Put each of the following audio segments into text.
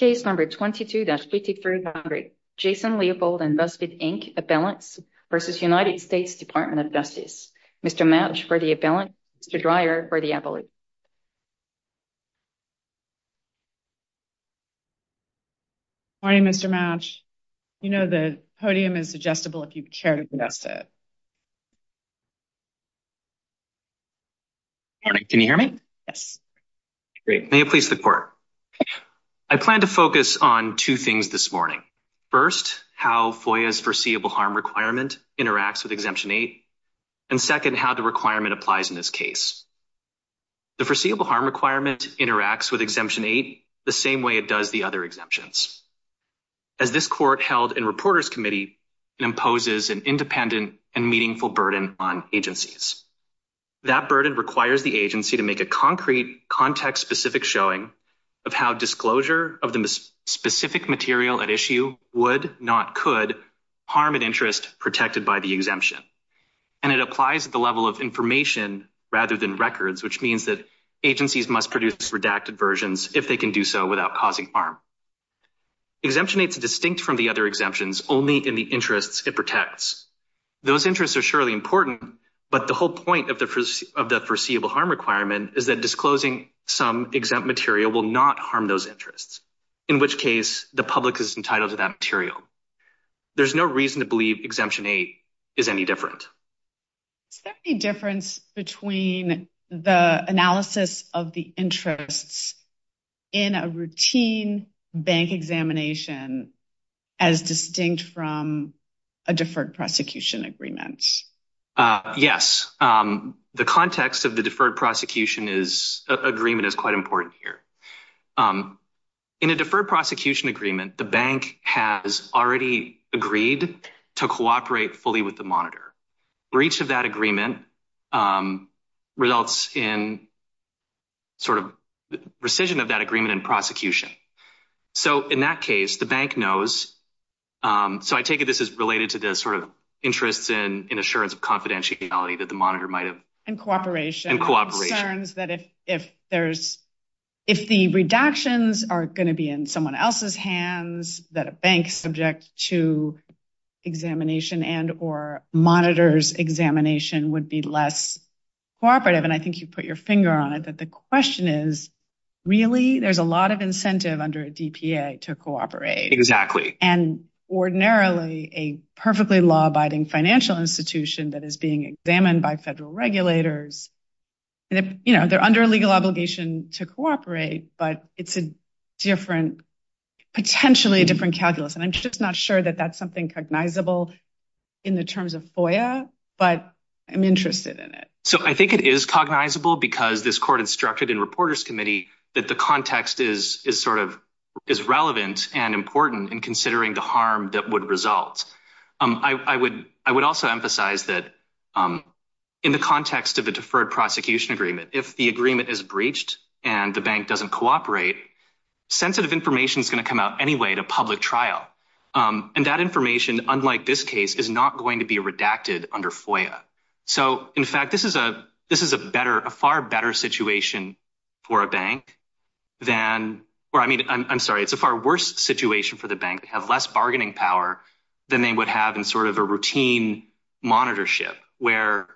22-5300 Jason Leopold and BuzzFeed Inc. Appellants v. United States Department of Justice Mr. Mouch for the appellant, Mr. Dreyer for the appellate. Good morning Mr. Mouch. You know the podium is adjustable if you chair to confess it. Good morning. Can you hear me? Yes. Great. May it please the court. I plan to focus on two things this morning. First, how FOIA's foreseeable harm requirement interacts with Exemption 8. And second, how the requirement applies in this case. The foreseeable harm requirement interacts with Exemption 8 the same way it does the other exemptions. As this court held in Reporters Committee, it imposes an independent and meaningful burden on agencies. That burden requires the agency to make a concrete, context-specific showing of how disclosure of the specific material at issue would, not could, harm an interest protected by the exemption. And it applies at the level of information rather than records, which means that agencies must produce redacted versions if they can do so without causing harm. Exemption 8 is distinct from the other exemptions only in the interests it protects. Those interests are surely important, but the whole point of the foreseeable harm requirement is that disclosing some exempt material will not harm those interests. In which case, the public is entitled to that material. There's no reason to believe Exemption 8 is any different. Is there any difference between the analysis of the interests in a routine bank examination as distinct from a deferred prosecution agreement? Yes. The context of the deferred prosecution agreement is quite important here. In a deferred prosecution agreement, the bank has already agreed to cooperate fully with the monitor. Breach of that agreement results in sort of rescission of that agreement and prosecution. So in that case, the bank knows. So I take it this is related to the sort of interests in assurance of confidentiality that the monitor might have. And cooperation. And cooperation. Concerns that if the redactions are going to be in someone else's hands, that a bank subject to examination and or monitor's examination would be less cooperative. And I think you put your finger on it. But the question is, really, there's a lot of incentive under a DPA to cooperate. Exactly. And ordinarily, a perfectly law-abiding financial institution that is being examined by federal regulators, you know, they're under legal obligation to cooperate. But it's a different, potentially different calculus. And I'm just not sure that that's something cognizable in the terms of FOIA. But I'm interested in it. So I think it is cognizable because this court instructed in reporter's committee that the context is sort of is relevant and important in considering the harm that would result. I would also emphasize that in the context of a deferred prosecution agreement, if the agreement is breached and the bank doesn't cooperate, sensitive information is going to come out anyway to public trial. And that information, unlike this case, is not going to be redacted under FOIA. So, in fact, this is a far better situation for a bank than – or, I mean, I'm sorry, it's a far worse situation for the bank to have less bargaining power than they would have in sort of a routine monitorship, where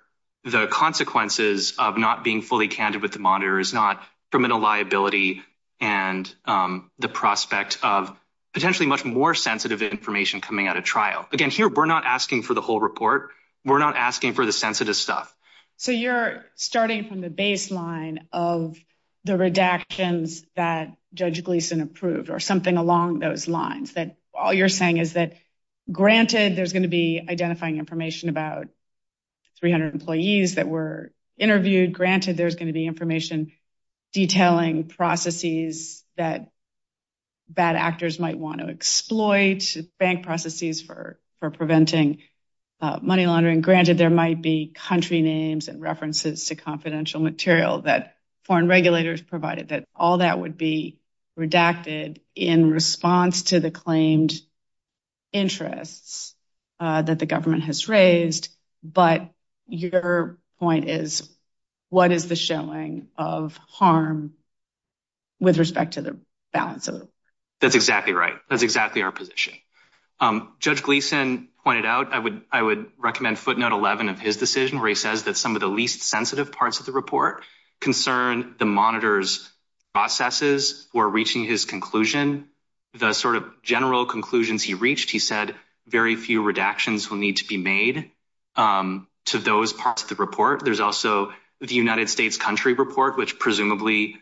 the consequences of not being fully candid with the monitor is not criminal liability and the prospect of potentially much more sensitive information coming out of trial. Again, here, we're not asking for the whole report. We're not asking for the sensitive stuff. So you're starting from the baseline of the redactions that Judge Gleeson approved or something along those lines, that all you're saying is that, granted, there's going to be identifying information about 300 employees that were interviewed. Granted, there's going to be information detailing processes that bad actors might want to exploit, bank processes for preventing money laundering. Granted, there might be country names and references to confidential material that foreign regulators provided, that all that would be redacted in response to the claimed interests that the government has raised. But your point is, what is the showing of harm with respect to the balance of it? That's exactly right. That's exactly our position. Judge Gleeson pointed out, I would recommend footnote 11 of his decision where he says that some of the least sensitive parts of the report concern the monitor's processes. We're reaching his conclusion, the sort of general conclusions he reached. He said very few redactions will need to be made to those parts of the report. There's also the United States country report, which presumably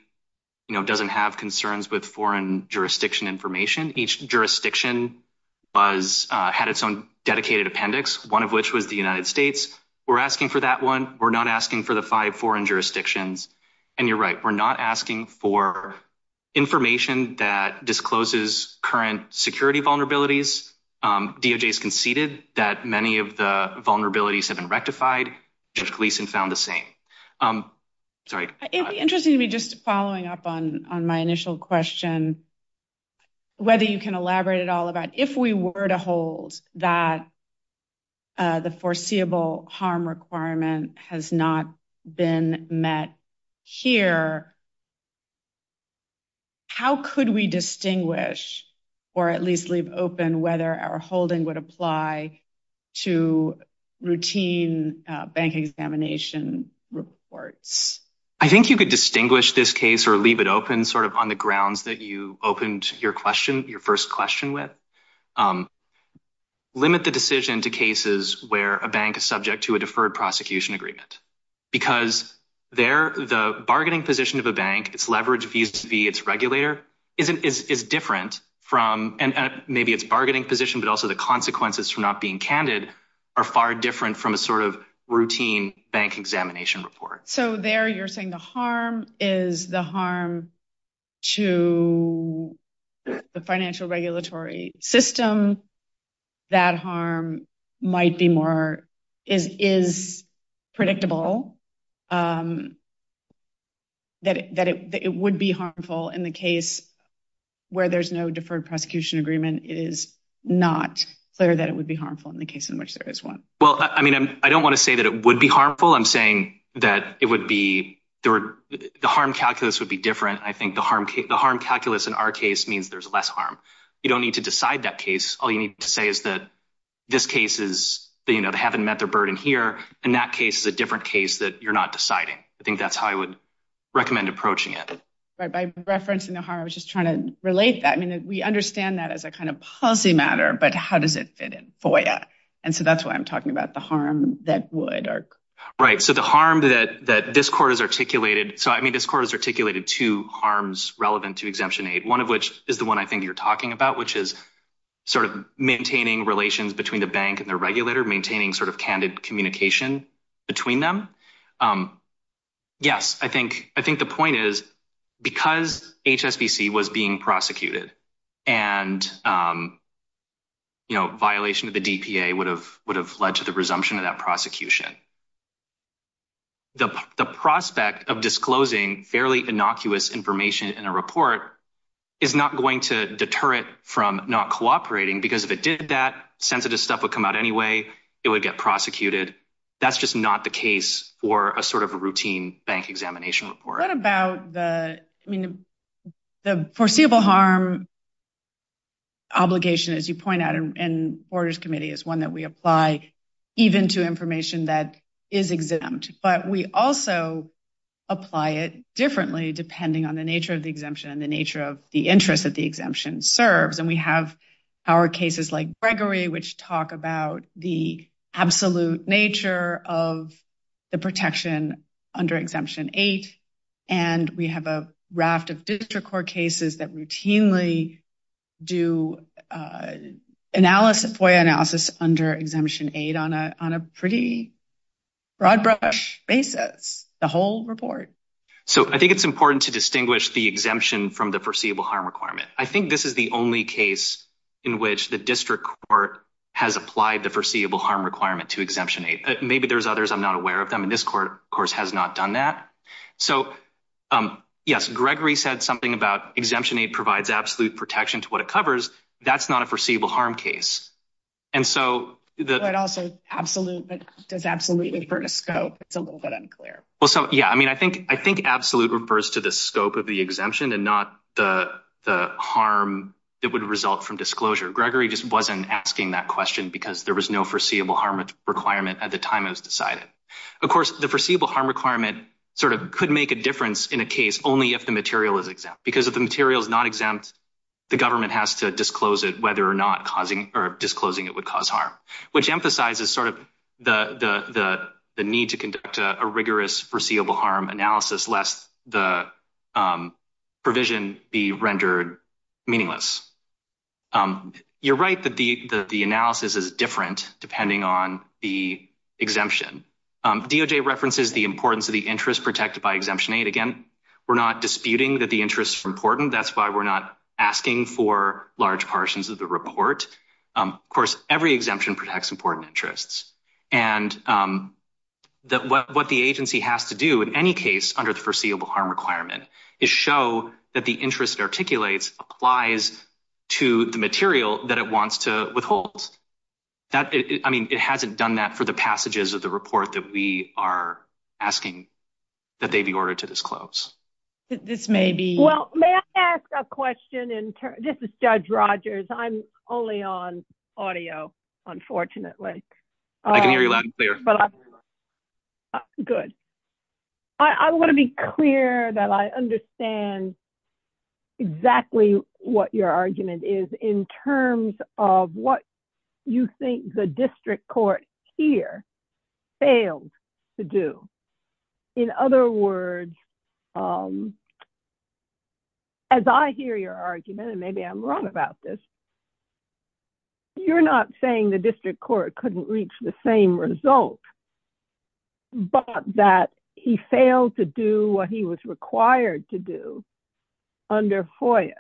doesn't have concerns with foreign jurisdiction information. Each jurisdiction had its own dedicated appendix, one of which was the United States. We're asking for that one. We're not asking for the five foreign jurisdictions. And you're right. We're not asking for information that discloses current security vulnerabilities. DOJ has conceded that many of the vulnerabilities have been rectified. Judge Gleeson found the same. Interesting to me, just following up on my initial question, whether you can elaborate at all about if we were to hold that. The foreseeable harm requirement has not been met here. How could we distinguish or at least leave open whether our holding would apply to routine bank examination reports? I think you could distinguish this case or leave it open sort of on the grounds that you opened your question, your first question with limit the decision to cases where a bank is subject to a deferred prosecution agreement. Because there the bargaining position of a bank, its leverage fees to be its regulator is different from and maybe its bargaining position, but also the consequences for not being candid are far different from a sort of routine bank examination report. So there you're saying the harm is the harm to the financial regulatory system. That harm might be more is is predictable. That it would be harmful in the case where there's no deferred prosecution agreement, it is not clear that it would be harmful in the case in which there is one. Well, I mean, I don't want to say that it would be harmful. I'm saying that it would be the harm calculus would be different. I think the harm, the harm calculus in our case means there's less harm. You don't need to decide that case. All you need to say is that this case is they haven't met their burden here. And that case is a different case that you're not deciding. I think that's how I would recommend approaching it. By referencing the harm, I was just trying to relate that. I mean, we understand that as a kind of policy matter, but how does it fit in for you? And so that's why I'm talking about the harm that would work. Right. So the harm that that this court is articulated. So, I mean, this court is articulated to harms relevant to exemption aid, one of which is the one I think you're talking about, which is sort of maintaining relations between the bank and the regulator, maintaining sort of candid communication between them. Yes, I think I think the point is because HSBC was being prosecuted and. You know, violation of the DPA would have would have led to the resumption of that prosecution. The prospect of disclosing fairly innocuous information in a report is not going to deter it from not cooperating because if it did, that sensitive stuff would come out anyway. It would get prosecuted. That's just not the case for a sort of a routine bank examination report about the, I mean, the foreseeable harm. Obligation, as you point out, and Borders Committee is one that we apply even to information that is exempt, but we also apply it differently depending on the nature of the exemption and the nature of the interest that the exemption serves. And we have our cases like Gregory, which talk about the absolute nature of the protection under exemption eight. And we have a raft of district court cases that routinely do analysis analysis under exemption eight on a on a pretty broad basis, the whole report. So, I think it's important to distinguish the exemption from the foreseeable harm requirement. I think this is the only case. In which the district court has applied the foreseeable harm requirement to exemption eight. Maybe there's others. I'm not aware of them in this court course has not done that. So, yes, Gregory said something about exemption eight provides absolute protection to what it covers. That's not a foreseeable harm case. And so that also absolute, but does absolutely for a scope. It's a little bit unclear. Well, so, yeah, I mean, I think I think absolute refers to the scope of the exemption and not the harm. It would result from disclosure. Gregory just wasn't asking that question because there was no foreseeable harm requirement at the time it was decided. Of course, the foreseeable harm requirement sort of could make a difference in a case only if the material is exempt because of the materials not exempt. The government has to disclose it, whether or not causing or disclosing it would cause harm, which emphasizes sort of the, the, the, the need to conduct a rigorous foreseeable harm analysis. Less the provision be rendered meaningless. You're right that the, the, the analysis is different depending on the exemption. DOJ references the importance of the interest protected by exemption eight. Again, we're not disputing that the interest is important. That's why we're not asking for large portions of the report. Of course, every exemption protects important interests and that what the agency has to do in any case under the foreseeable harm requirement is show that the interest articulates applies to the material that it wants to withhold. That, I mean, it hasn't done that for the passages of the report that we are asking that they be ordered to disclose. This may be well, may I ask a question? And this is Judge Rogers. I'm only on audio. Unfortunately, I can hear you loud and clear. Good. I want to be clear that I understand exactly what your argument is in terms of what you think the district court here failed to do. In other words, as I hear your argument, and maybe I'm wrong about this. You're not saying the district court couldn't reach the same result, but that he failed to do what he was required to do under FOIA,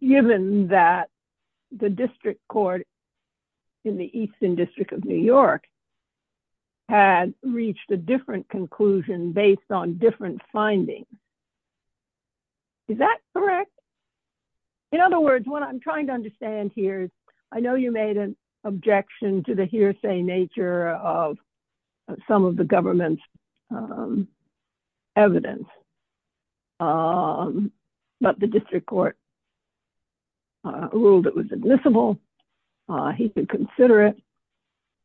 given that the district court in the Eastern District of New York had reached a different conclusion based on different findings. Is that correct? In other words, what I'm trying to understand here is I know you made an objection to the hearsay nature of some of the government's evidence. But the district court ruled it was admissible. He could consider it,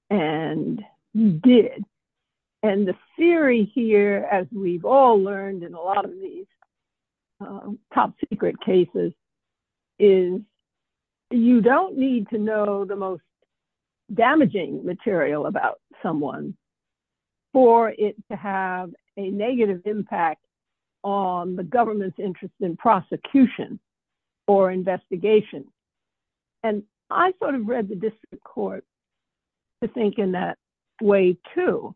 and he did. And the theory here, as we've all learned in a lot of these top secret cases, is you don't need to know the most damaging material about someone for it to have a negative impact on the government's interest in prosecution or investigation. And I sort of read the district court to think in that way, too.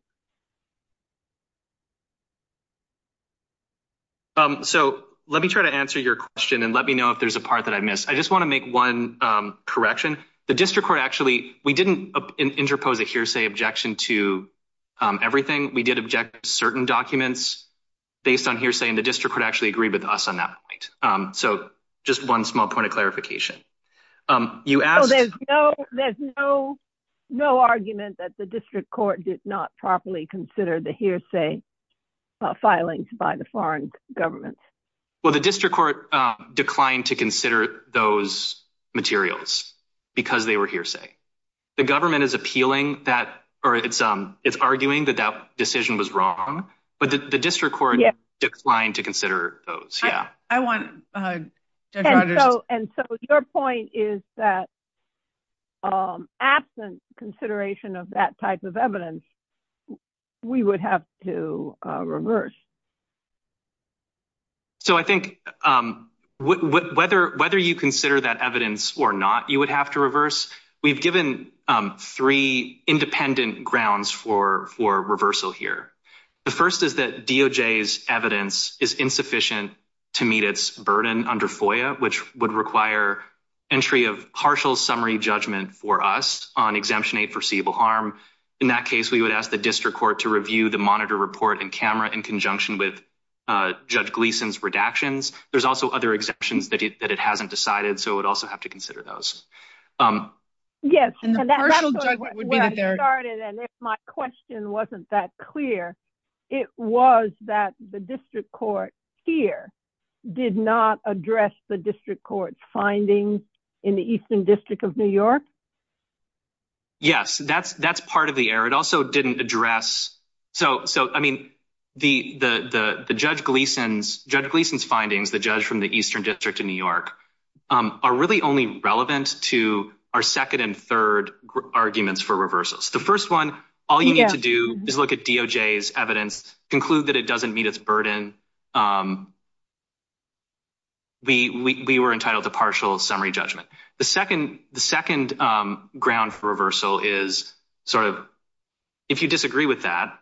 So let me try to answer your question and let me know if there's a part that I missed. I just want to make one correction. The district court actually we didn't interpose a hearsay objection to everything. We did object certain documents based on hearsay, and the district could actually agree with us on that. So just one small point of clarification. There's no argument that the district court did not properly consider the hearsay filings by the foreign government. Well, the district court declined to consider those materials because they were hearsay. The government is appealing that or it's arguing that that decision was wrong, but the district court declined to consider those. And so your point is that absent consideration of that type of evidence, we would have to reverse. So I think whether you consider that evidence or not, you would have to reverse. We've given three independent grounds for reversal here. The first is that DOJ's evidence is insufficient to meet its burden under FOIA, which would require entry of partial summary judgment for us on Exemption 8 foreseeable harm. In that case, we would ask the district court to review the monitor report and camera in conjunction with Judge Gleason's redactions. There's also other exemptions that it hasn't decided. So it would also have to consider those. Yes. My question wasn't that clear. It was that the district court here did not address the district court's findings in the Eastern District of New York. Yes, that's that's part of the error. It also didn't address. So I mean, the Judge Gleason's findings, the judge from the Eastern District of New York, are really only relevant to our second and third arguments for reversals. The first one, all you need to do is look at DOJ's evidence, conclude that it doesn't meet its burden. We were entitled to partial summary judgment. The second the second ground for reversal is sort of if you disagree with that,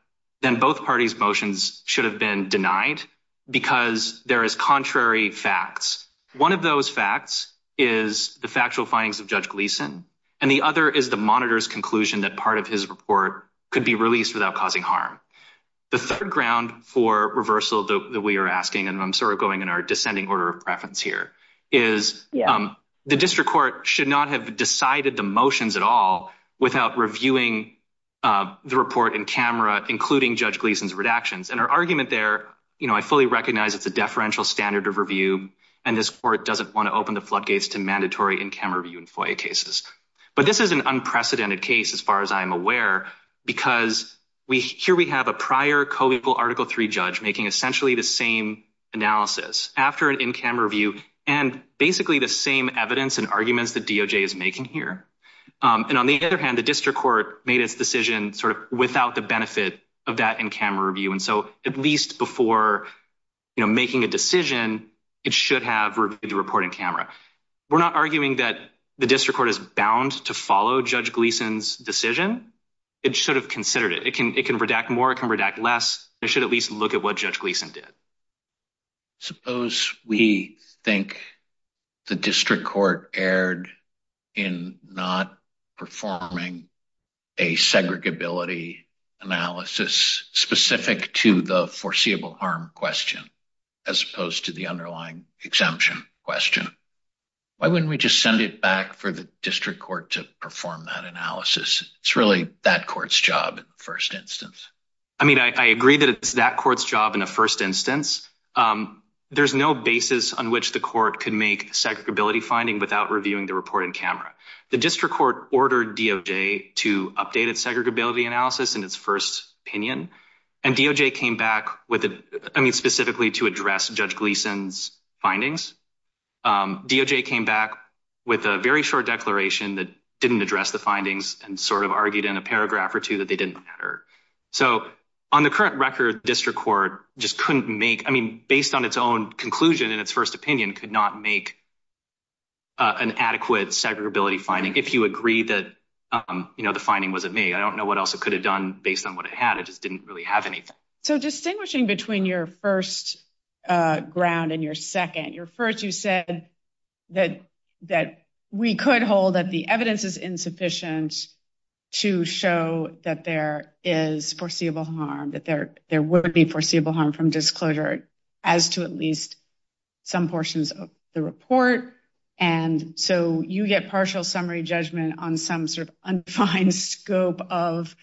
then both parties motions should have been denied because there is contrary facts. One of those facts is the factual findings of Judge Gleason. And the other is the monitors conclusion that part of his report could be released without causing harm. The third ground for reversal that we are asking, and I'm sort of going in our descending order of preference here is the district court should not have decided the motions at all without reviewing the report in camera, including Judge Gleason's redactions. And our argument there, you know, I fully recognize it's a deferential standard of review, and this court doesn't want to open the floodgates to mandatory in camera view and FOIA cases. But this is an unprecedented case as far as I'm aware, because we here we have a prior article three judge making essentially the same analysis after an in camera view and basically the same evidence and arguments that DOJ is making here. And on the other hand, the district court made its decision sort of without the benefit of that in camera view. And so at least before making a decision, it should have the reporting camera. We're not arguing that the district court is bound to follow Judge Gleason's decision. It should have considered it. It can redact more. It can redact less. It should at least look at what Judge Gleason did. Suppose we think the district court erred in not performing a segregability analysis specific to the foreseeable harm question, as opposed to the underlying exemption question. Why wouldn't we just send it back for the district court to perform that analysis? It's really that court's job in the first instance. I mean, I agree that it's that court's job in the first instance. There's no basis on which the court can make segregability finding without reviewing the report in camera. The district court ordered DOJ to update its segregability analysis in its first opinion. And DOJ came back specifically to address Judge Gleason's findings. DOJ came back with a very short declaration that didn't address the findings and sort of argued in a paragraph or two that they didn't matter. So on the current record, district court just couldn't make, I mean, based on its own conclusion in its first opinion, could not make an adequate segregability finding. If you agree that the finding wasn't made, I don't know what else it could have done based on what it had. It just didn't really have anything. So distinguishing between your first ground and your second, your first you said that we could hold that the evidence is insufficient to show that there is foreseeable harm, that there would be foreseeable harm from disclosure as to at least some portions of the report. And so you get partial summary judgment on some sort of undefined scope of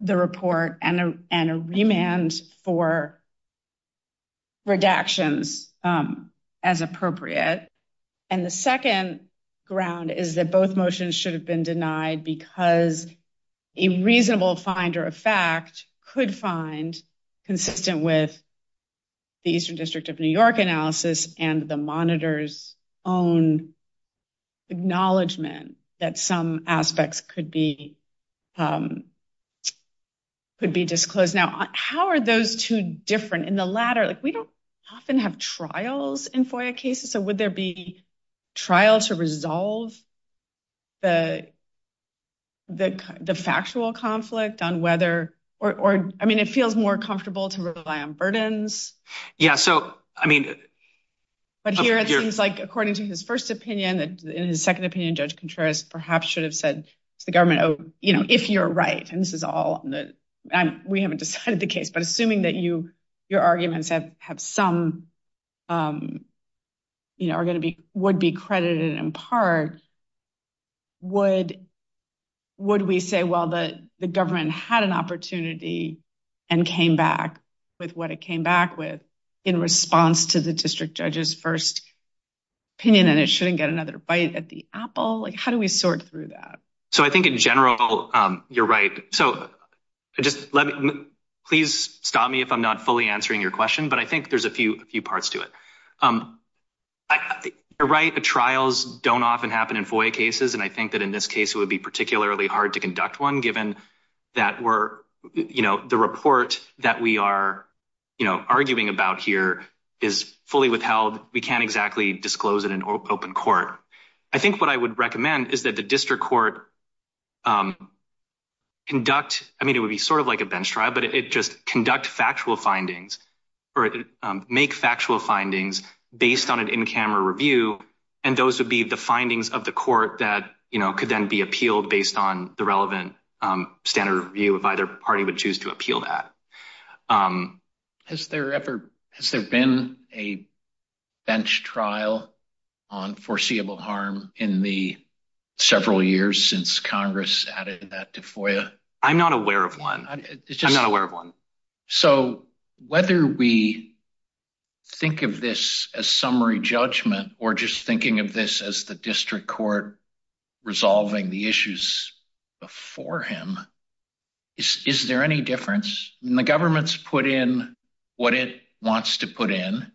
the report and a remand for redactions as appropriate. And the second ground is that both motions should have been denied because a reasonable finder of fact could find consistent with the Eastern District of New York analysis and the monitor's own acknowledgement that some aspects could be disclosed. Now, how are those two different in the latter? We don't often have trials in FOIA cases. So would there be trial to resolve the factual conflict on whether or I mean, it feels more comfortable to rely on burdens. Yeah, so I mean, but here it seems like according to his first opinion that in his second opinion, Judge Contreras perhaps should have said to the government, you know, if you're right. And this is all we haven't decided the case, but assuming that you your arguments have have some, you know, are going to be would be credited in part. Would would we say, well, the government had an opportunity and came back with what it came back with in response to the district judge's first opinion, and it shouldn't get another bite at the apple. Like, how do we sort through that? So I think in general, you're right. So just please stop me if I'm not fully answering your question, but I think there's a few few parts to it. Right. Trials don't often happen in FOIA cases. And I think that in this case, it would be particularly hard to conduct one, given that we're, you know, the report that we are, you know, arguing about here is fully withheld. We can't exactly disclose it in open court. I think what I would recommend is that the district court. Conduct I mean, it would be sort of like a bench trial, but it just conduct factual findings or make factual findings based on an in-camera review. And those would be the findings of the court that could then be appealed based on the relevant standard review of either party would choose to appeal that. Has there ever has there been a bench trial on foreseeable harm in the several years since Congress added that to FOIA? I'm not aware of one. I'm not aware of one. So, whether we think of this as summary judgment, or just thinking of this as the district court resolving the issues before him, is there any difference? The government's put in what it wants to put in,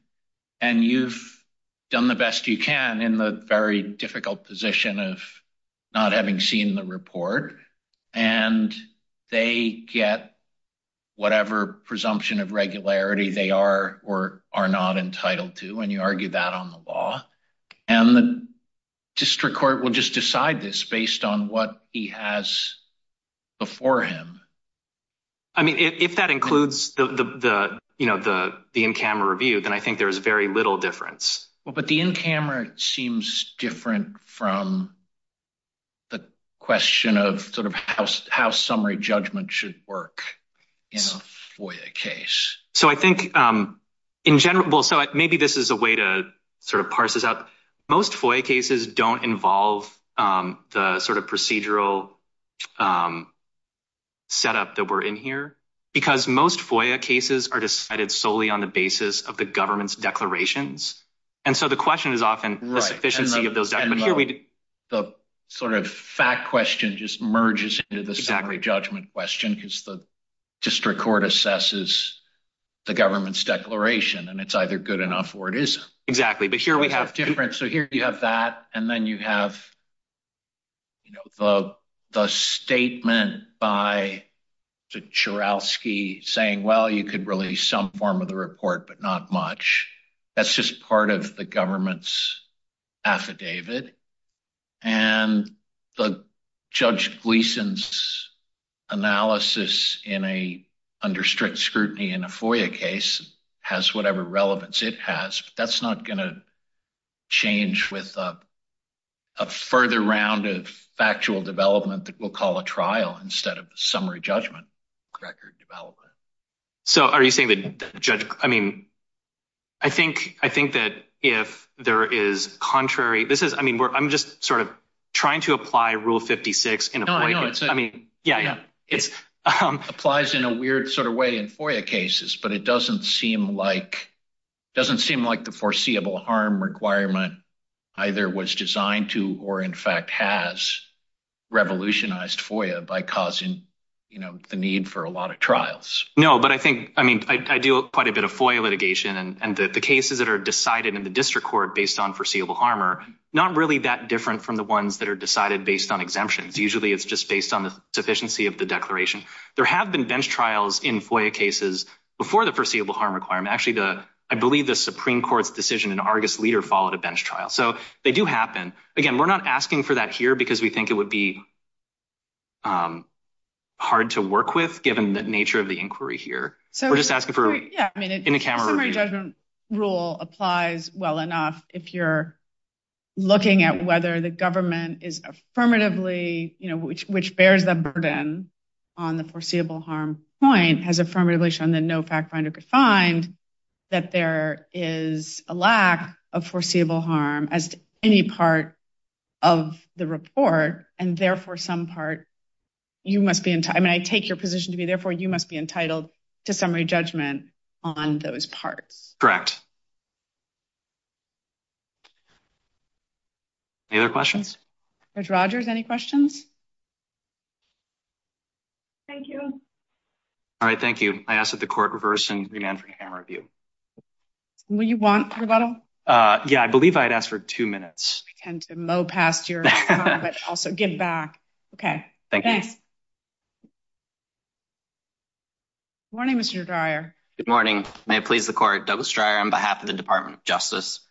and you've done the best you can in the very difficult position of not having seen the report. And they get whatever presumption of regularity they are or are not entitled to. And you argue that on the law. And the district court will just decide this based on what he has before him. I mean, if that includes the in-camera review, then I think there is very little difference. Well, but the in-camera seems different from the question of sort of how summary judgment should work in a FOIA case. So, I think in general, so maybe this is a way to sort of parse this out. Most FOIA cases don't involve the sort of procedural setup that we're in here, because most FOIA cases are decided solely on the basis of the government's declarations. And so the question is often the sufficiency of those declarations. And the sort of fact question just merges into the summary judgment question, because the district court assesses the government's declaration, and it's either good enough or it isn't. Exactly. But here we have… And then you have the statement by Mr. Churowsky saying, well, you could release some form of the report, but not much. That's just part of the government's affidavit. And Judge Gleeson's analysis under strict scrutiny in a FOIA case has whatever relevance it has, but that's not going to change with a further round of factual development that we'll call a trial instead of a summary judgment record development. So, are you saying that Judge… I mean, I think that if there is contrary… This is, I mean, I'm just sort of trying to apply Rule 56 in a FOIA case. It applies in a weird sort of way in FOIA cases, but it doesn't seem like the foreseeable harm requirement either was designed to or, in fact, has revolutionized FOIA by causing the need for a lot of trials. No, but I think… I mean, I do quite a bit of FOIA litigation, and the cases that are decided in the district court based on foreseeable harm are not really that different from the ones that are decided based on exemptions. Usually, it's just based on the sufficiency of the declaration. There have been bench trials in FOIA cases before the foreseeable harm requirement. Actually, I believe the Supreme Court's decision in Argus Leader followed a bench trial. So, they do happen. Again, we're not asking for that here because we think it would be hard to work with given the nature of the inquiry here. Yeah, I mean, the summary judgment rule applies well enough if you're looking at whether the government is affirmatively… Which bears the burden on the foreseeable harm point has affirmatively shown that no fact finder could find that there is a lack of foreseeable harm as to any part of the report. I mean, I take your position to be, therefore, you must be entitled to summary judgment on those parts. Correct. Any other questions? Judge Rogers, any questions? Thank you. All right, thank you. I ask that the court reverse and remand for camera review. Will you want rebuttal? Yeah, I believe I had asked for two minutes. I tend to mow past your comment. Also, give back. Okay. Thanks. Morning, Mr. Dreyer. Good morning. May it please the court. Douglas Dreyer on behalf of the Department of Justice.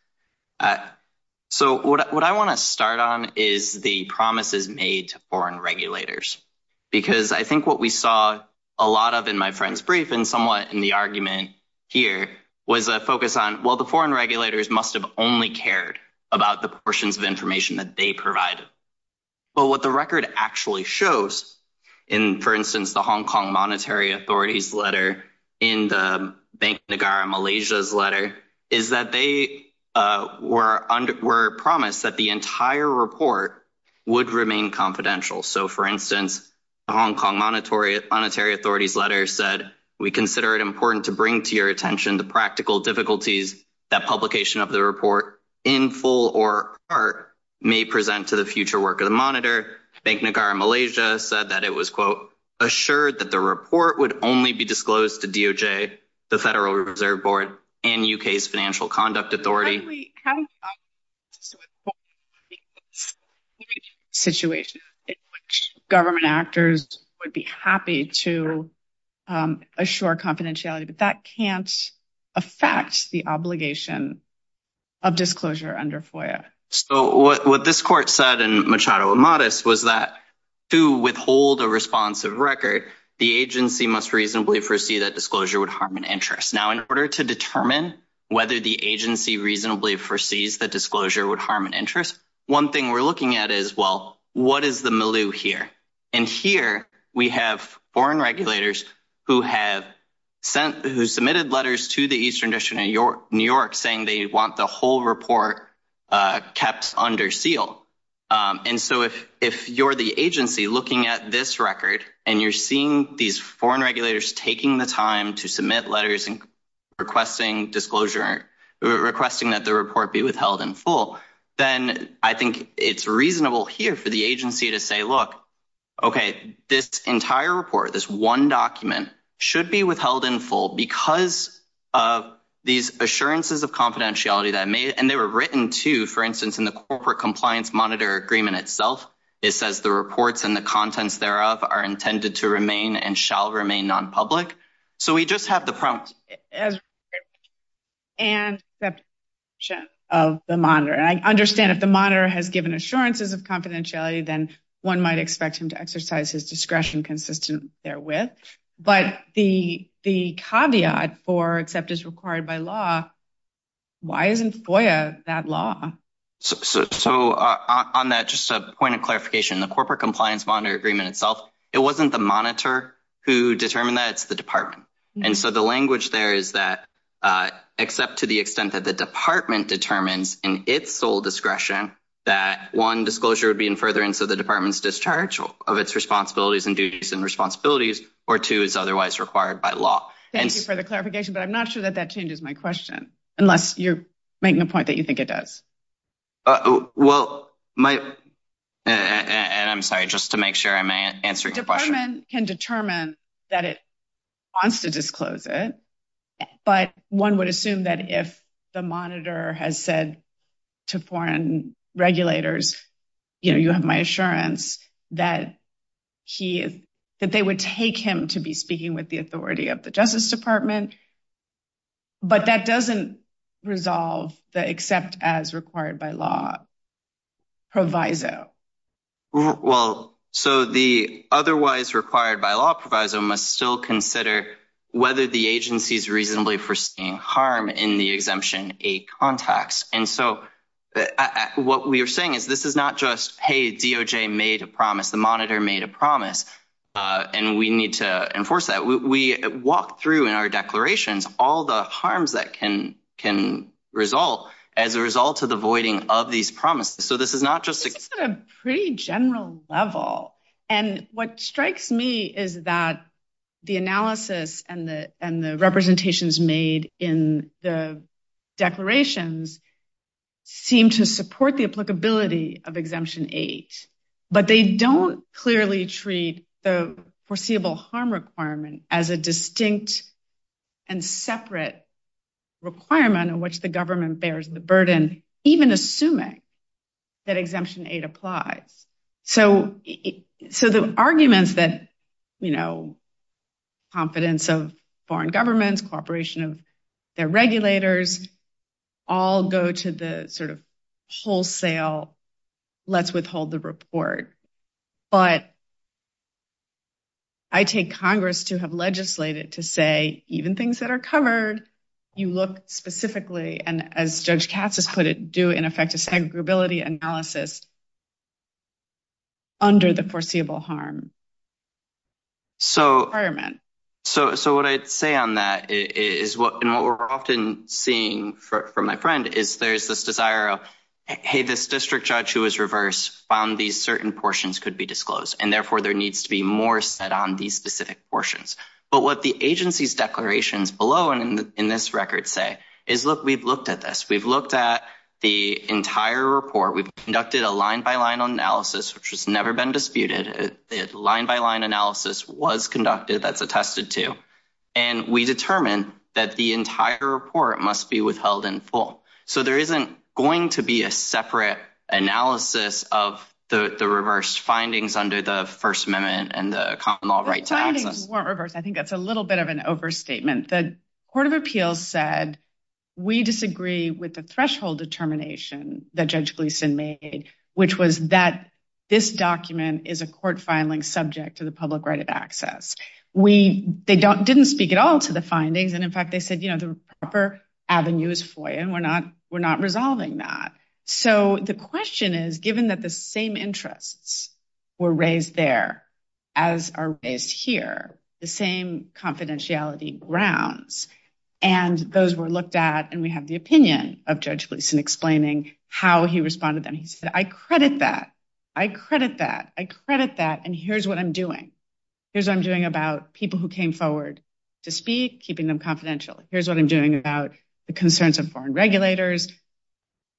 So, what I want to start on is the promises made to foreign regulators. Because I think what we saw a lot of in my friend's brief and somewhat in the argument here was a focus on, well, the foreign regulators must have only cared about the portions of information that they provided. But what the record actually shows in, for instance, the Hong Kong Monetary Authority's letter, in the Bank of Malaysia's letter, is that they were promised that the entire report would remain confidential. So, for instance, the Hong Kong Monetary Authority's letter said, we consider it important to bring to your attention the practical difficulties that publication of the report in full or part may present to the future work of the monitor. Bank of Malaysia said that it was, quote, assured that the report would only be disclosed to DOJ, the Federal Reserve Board, and U.K.'s Financial Conduct Authority. So, we have a situation in which government actors would be happy to assure confidentiality. But that can't affect the obligation of disclosure under FOIA. So, what this court said in Machado y Modest was that to withhold a responsive record, the agency must reasonably foresee that disclosure would harm an interest. Now, in order to determine whether the agency reasonably foresees that disclosure would harm an interest, one thing we're looking at is, well, what is the milieu here? And here we have foreign regulators who have sent – who submitted letters to the Eastern District of New York saying they want the whole report kept under seal. And so, if you're the agency looking at this record, and you're seeing these foreign regulators taking the time to submit letters and requesting disclosure – requesting that the report be withheld in full, then I think it's reasonable here for the agency to say, look, okay, this entire report, this one document, should be withheld in full because of these assurances of confidentiality that may – and they were written, too, for instance, in the Corporate Compliance Act. In the Corporate Compliance Monitor Agreement itself, it says the reports and the contents thereof are intended to remain and shall remain nonpublic. So, we just have the promise of the monitor. And I understand if the monitor has given assurances of confidentiality, then one might expect him to exercise his discretion consistent therewith. But the caveat for except it's required by law, why isn't FOIA that law? So, on that, just a point of clarification, the Corporate Compliance Monitor Agreement itself, it wasn't the monitor who determined that. It's the department. And so, the language there is that except to the extent that the department determines in its sole discretion that, one, disclosure would be in furtherance of the department's discharge of its responsibilities and duties and responsibilities, or two, it's otherwise required by law. Thank you for the clarification, but I'm not sure that that changes my question, unless you're making a point that you think it does. Well, my – and I'm sorry, just to make sure I'm answering your question. The department can determine that it wants to disclose it, but one would assume that if the monitor has said to foreign regulators, you know, you have my assurance that they would take him to be speaking with the authority of the Justice Department. But that doesn't resolve the except as required by law proviso. Well, so the otherwise required by law proviso must still consider whether the agency is reasonably foreseeing harm in the exemption-A context. And so, what we are saying is this is not just, hey, DOJ made a promise, the monitor made a promise, and we need to enforce that. We walk through in our declarations all the harms that can result as a result of the voiding of these promises. So this is not just – And what strikes me is that the analysis and the representations made in the declarations seem to support the applicability of Exemption 8, but they don't clearly treat the foreseeable harm requirement as a distinct and separate requirement in which the government bears the burden, even assuming that Exemption 8 applies. So the arguments that, you know, confidence of foreign governments, cooperation of their regulators, all go to the sort of wholesale, let's withhold the report. But I take Congress to have legislated to say, even things that are covered, you look specifically, and as Judge Katz has put it, do an effective segregability analysis under the foreseeable harm requirement. So what I'd say on that is – and what we're often seeing from my friend is there's this desire of, hey, this district judge who was reversed found these certain portions could be disclosed, and therefore there needs to be more said on these specific portions. But what the agency's declarations below and in this record say is, look, we've looked at this. We've looked at the entire report. We've conducted a line-by-line analysis, which has never been disputed. The line-by-line analysis was conducted. That's attested to. And we determined that the entire report must be withheld in full. So there isn't going to be a separate analysis of the reversed findings under the First Amendment and the common law right to access. The findings weren't reversed. I think that's a little bit of an overstatement. The Court of Appeals said we disagree with the threshold determination that Judge Gleeson made, which was that this document is a court filing subject to the public right of access. They didn't speak at all to the findings. And, in fact, they said the proper avenue is FOIA, and we're not resolving that. So the question is, given that the same interests were raised there as are raised here, the same confidentiality grounds, and those were looked at, and we have the opinion of Judge Gleeson explaining how he responded. And he said, I credit that. I credit that. I credit that. And here's what I'm doing. Here's what I'm doing about people who came forward to speak, keeping them confidential. Here's what I'm doing about the concerns of foreign regulators,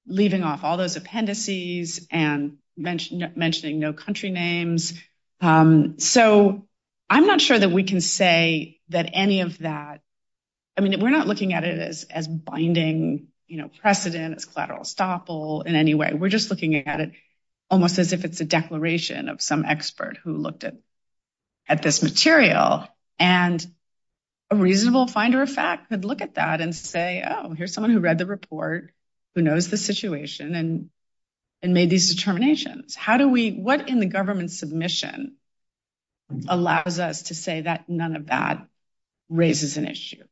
leaving off all those appendices and mentioning no country names. So I'm not sure that we can say that any of that. I mean, we're not looking at it as binding precedent, as collateral estoppel in any way. We're just looking at it almost as if it's a declaration of some expert who looked at this material. And a reasonable finder of fact could look at that and say, oh, here's someone who read the report, who knows the situation, and made these determinations. How do we – what in the government submission allows us to say that none of that raises an issue?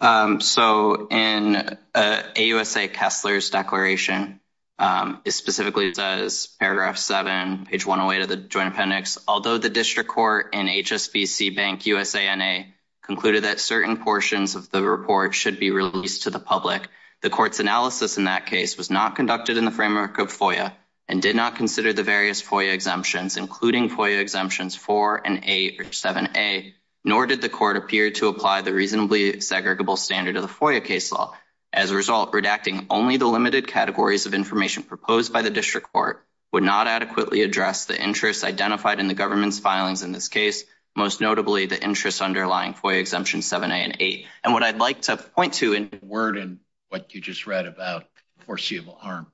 So in AUSA Kessler's declaration, it specifically says, paragraph 7, page 108 of the Joint Appendix, although the district court and HSBC Bank USANA concluded that certain portions of the report should be released to the public, the court's analysis in that case was not conducted in the framework of FOIA and did not consider the various FOIA exemptions, including FOIA exemptions 4 and 8 or 7A, nor did the court appear to apply the reasonably segregable standard of the FOIA case law. As a result, redacting only the limited categories of information proposed by the district court would not adequately address the interests identified in the government's filings in this case, most notably the interests underlying FOIA exemptions 7A and 8. And what I'd like to point to in – Word in what you just read about foreseeable harm.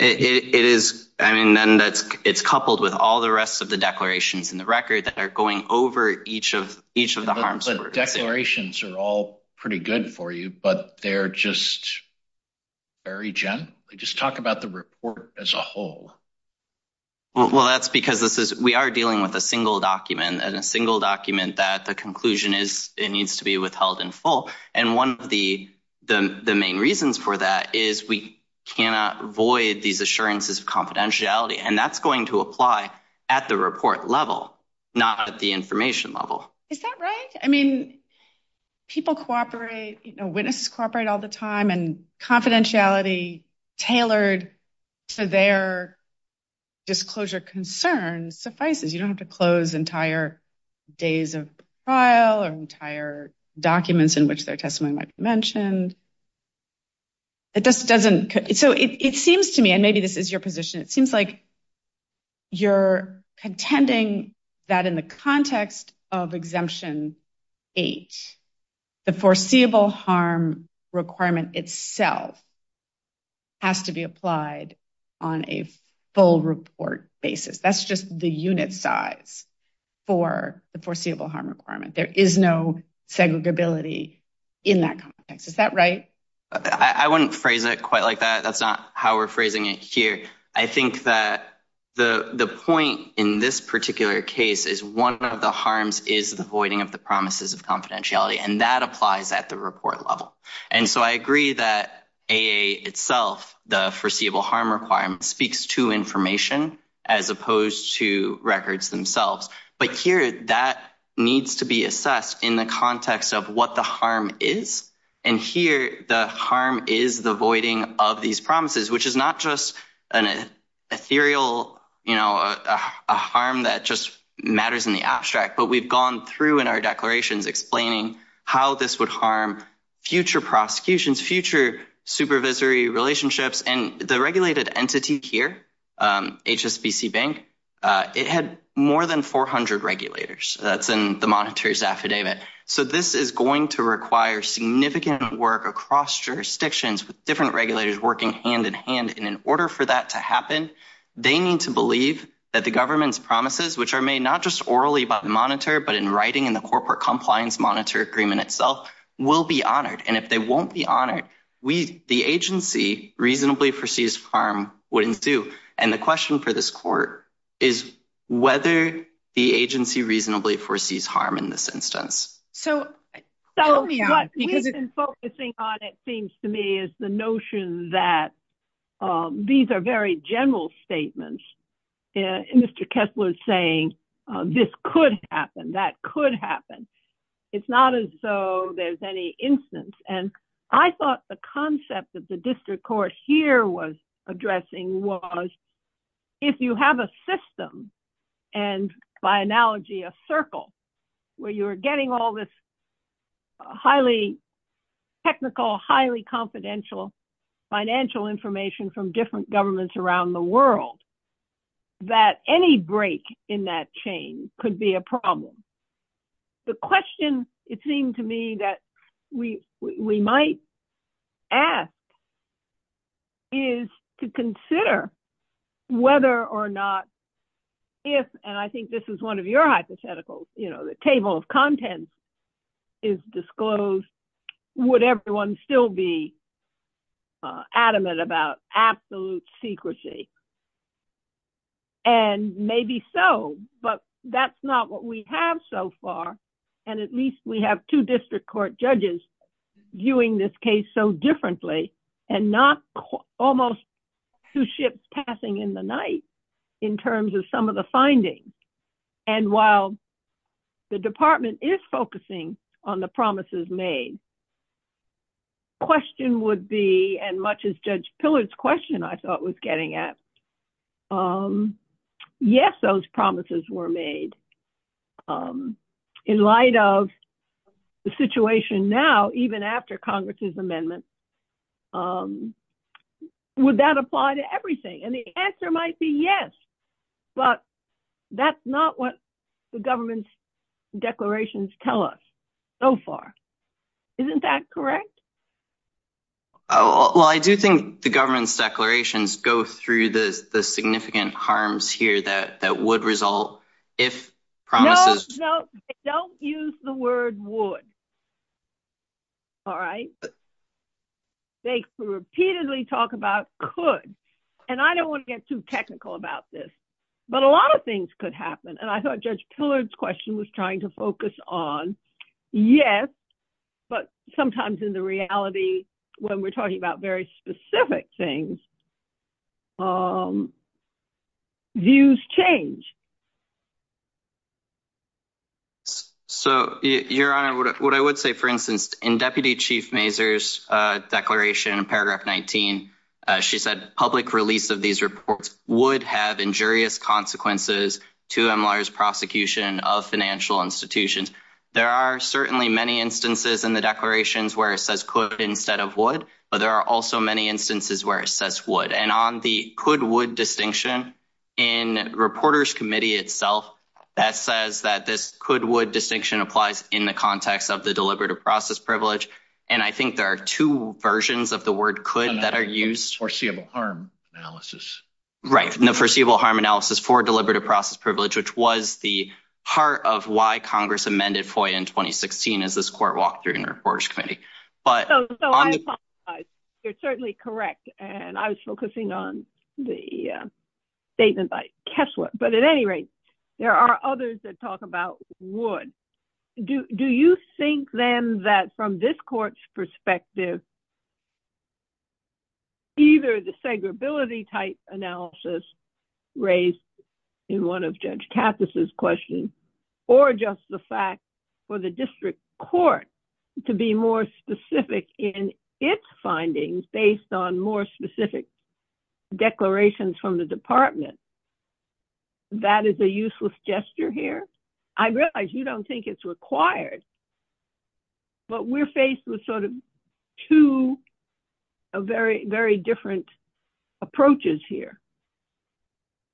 It is – I mean, then that's – it's coupled with all the rest of the declarations in the record that are going over each of the harms that we're seeing. The declarations are all pretty good for you, but they're just very gentle. Just talk about the report as a whole. Well, that's because this is – we are dealing with a single document, and a single document that the conclusion is it needs to be withheld in full. And one of the main reasons for that is we cannot void these assurances of confidentiality, and that's going to apply at the report level, not at the information level. Is that right? I mean, people cooperate – you know, witnesses cooperate all the time, and confidentiality tailored to their disclosure concerns suffices. You don't have to close entire days of trial or entire documents in which their testimony might be mentioned. It just doesn't – so it seems to me, and maybe this is your position, it seems like you're contending that in the context of exemption 8, the foreseeable harm requirement itself has to be applied on a full report basis. That's just the unit size for the foreseeable harm requirement. There is no segregability in that context. Is that right? I wouldn't phrase it quite like that. That's not how we're phrasing it here. I think that the point in this particular case is one of the harms is the voiding of the promises of confidentiality, and that applies at the report level. And so I agree that AA itself, the foreseeable harm requirement, speaks to information as opposed to records themselves. But here that needs to be assessed in the context of what the harm is. And here the harm is the voiding of these promises, which is not just an ethereal, you know, a harm that just matters in the abstract, but we've gone through in our declarations explaining how this would harm future prosecutions, future supervisory relationships. And the regulated entity here, HSBC Bank, it had more than 400 regulators. That's in the Monetary's affidavit. So this is going to require significant work across jurisdictions with different regulators working hand-in-hand. And in order for that to happen, they need to believe that the government's promises, which are made not just orally by the monitor, but in writing in the Corporate Compliance Monitor Agreement itself, will be honored. And if they won't be honored, the agency reasonably foresees harm would ensue. And the question for this court is whether the agency reasonably foresees harm in this instance. So what we've been focusing on, it seems to me, is the notion that these are very general statements. Mr. Kessler is saying this could happen, that could happen. It's not as though there's any instance. And I thought the concept that the district court here was addressing was if you have a system, and by analogy, a circle where you are getting all this highly technical, highly confidential, financial information from different governments around the world, that any break in that chain could be a problem. The question, it seemed to me, that we might ask is to consider whether or not if, and I think this is one of your hypotheticals, you know, the table of contents is disclosed, would everyone still be adamant about absolute secrecy? And maybe so, but that's not what we have so far. And at least we have two district court judges viewing this case so differently, and not almost two ships passing in the night in terms of some of the findings. And while the department is focusing on the promises made, question would be, and much as Judge Pillard's question I thought was getting at, yes, those promises were made. In light of the situation now, even after Congress's amendment, would that apply to everything? And the answer might be yes, but that's not what the government's declarations tell us so far. Isn't that correct? Well, I do think the government's declarations go through the significant harms here that would result if promises... No, no, they don't use the word would. All right? They repeatedly talk about could. And I don't want to get too technical about this, but a lot of things could happen, and I thought Judge Pillard's question was trying to focus on yes, but sometimes in the reality when we're talking about very specific things, views change. So, Your Honor, what I would say, for instance, in Deputy Chief Mazur's declaration in paragraph 19, she said public release of these reports would have injurious consequences to MLR's prosecution of financial institutions. There are certainly many instances in the declarations where it says could instead of would, but there are also many instances where it says would. And on the could-would distinction, in Reporters Committee itself, that says that this could-would distinction applies in the context of the deliberative process privilege, and I think there are two versions of the word could that are used. Foreseeable harm analysis. Right. The foreseeable harm analysis for deliberative process privilege, which was the heart of why Congress amended FOIA in 2016 as this court walked through in Reporters Committee. So I apologize. You're certainly correct, and I was focusing on the statement by Kessler. But at any rate, there are others that talk about would. Do you think, then, that from this court's perspective, either the segregability type analysis raised in one of Judge Kappas' questions, or just the fact for the district court to be more specific in its findings based on more specific declarations from the department, that is a useless gesture here? I realize you don't think it's required, but we're faced with sort of two very, very different approaches here.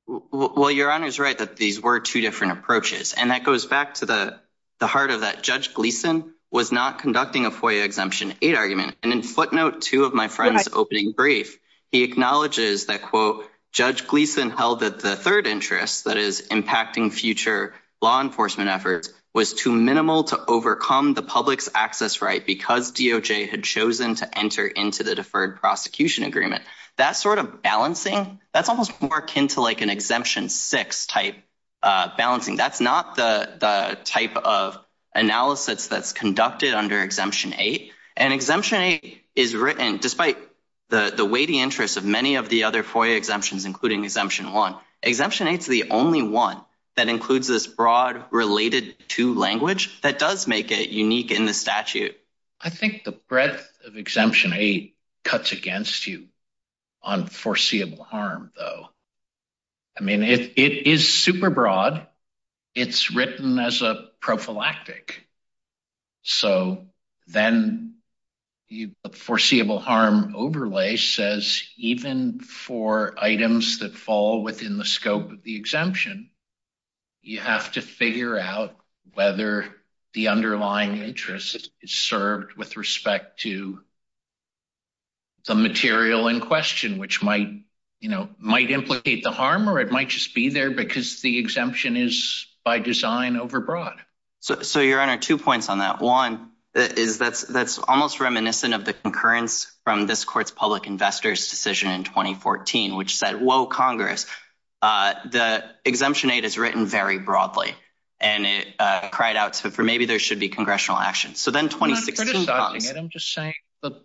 Well, Your Honor's right that these were two different approaches, and that goes back to the heart of that Judge Gleeson was not conducting a FOIA Exemption 8 argument. And in footnote 2 of my friend's opening brief, he acknowledges that, quote, that the third interest, that is impacting future law enforcement efforts, was too minimal to overcome the public's access right because DOJ had chosen to enter into the Deferred Prosecution Agreement. That sort of balancing, that's almost more akin to like an Exemption 6 type balancing. That's not the type of analysis that's conducted under Exemption 8. And Exemption 8 is written, despite the weighty interests of many of the other FOIA exemptions, including Exemption 1, Exemption 8 is the only one that includes this broad related to language that does make it unique in the statute. I think the breadth of Exemption 8 cuts against you on foreseeable harm, though. I mean, it is super broad. It's written as a prophylactic. So then the foreseeable harm overlay says even for items that fall within the scope of the exemption, you have to figure out whether the underlying interest is served with respect to the material in question, which might, you know, might implicate the harm or it might just be there because the exemption is by design overbroad. So, Your Honor, two points on that. One is that's almost reminiscent of the concurrence from this court's public investors decision in 2014, which said, whoa, Congress, the Exemption 8 is written very broadly and it cried out for maybe there should be congressional action. So then 2016 comes. I'm not criticizing it, I'm just saying that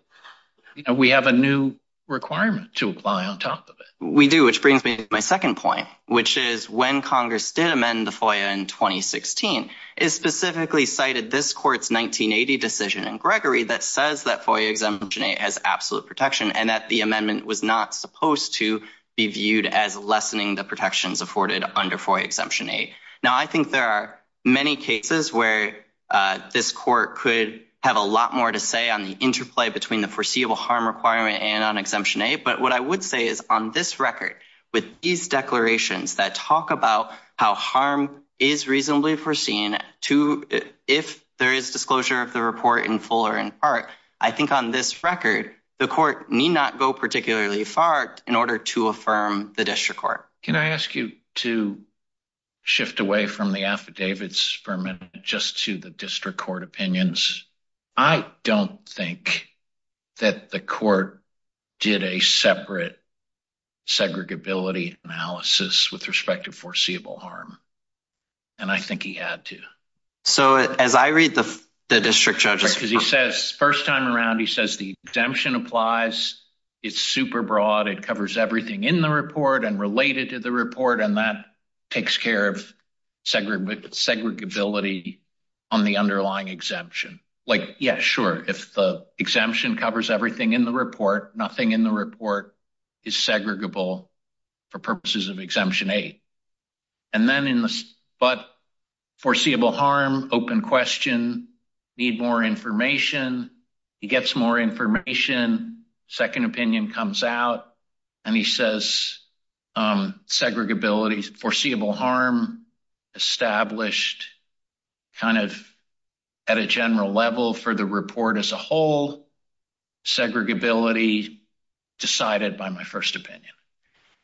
we have a new requirement to apply on top of it. We do, which brings me to my second point, which is when Congress did amend the FOIA in 2016, it specifically cited this court's 1980 decision in Gregory that says that FOIA Exemption 8 has absolute protection and that the amendment was not supposed to be viewed as lessening the protections afforded under FOIA Exemption 8. Now, I think there are many cases where this court could have a lot more to say on the interplay between the foreseeable harm requirement and on Exemption 8. But what I would say is on this record, with these declarations that talk about how harm is reasonably foreseen, if there is disclosure of the report in full or in part, I think on this record, the court need not go particularly far in order to affirm the district court. Can I ask you to shift away from the affidavits for a minute just to the district court opinions? I don't think that the court did a separate segregability analysis with respect to foreseeable harm. And I think he had to. So as I read the district judge, because he says first time around, he says the exemption applies, it's super broad, it covers everything in the report and related to the report. And that takes care of segregability on the underlying exemption. Like, yeah, sure. If the exemption covers everything in the report, nothing in the report is segregable for purposes of Exemption 8. And then in this, but foreseeable harm, open question, need more information. He gets more information. Second opinion comes out and he says segregability, foreseeable harm established kind of at a general level for the report as a whole. Segregability decided by my first opinion.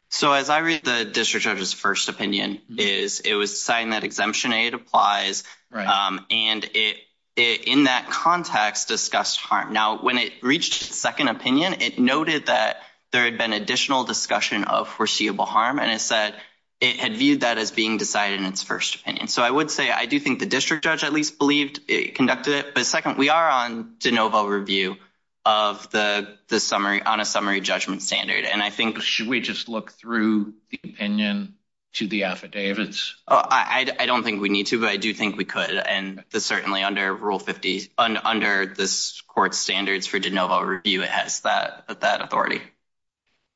So, as I read the district judge's first opinion is it was saying that Exemption 8 applies and it in that context discussed harm. Now, when it reached second opinion, it noted that there had been additional discussion of foreseeable harm. And it said it had viewed that as being decided in its first opinion. So I would say I do think the district judge at least believed it conducted it. But second, we are on DeNova review of the summary on a summary judgment standard. And I think should we just look through the opinion to the affidavits? I don't think we need to, but I do think we could. And certainly under Rule 50, under this court standards for DeNova review, it has that authority.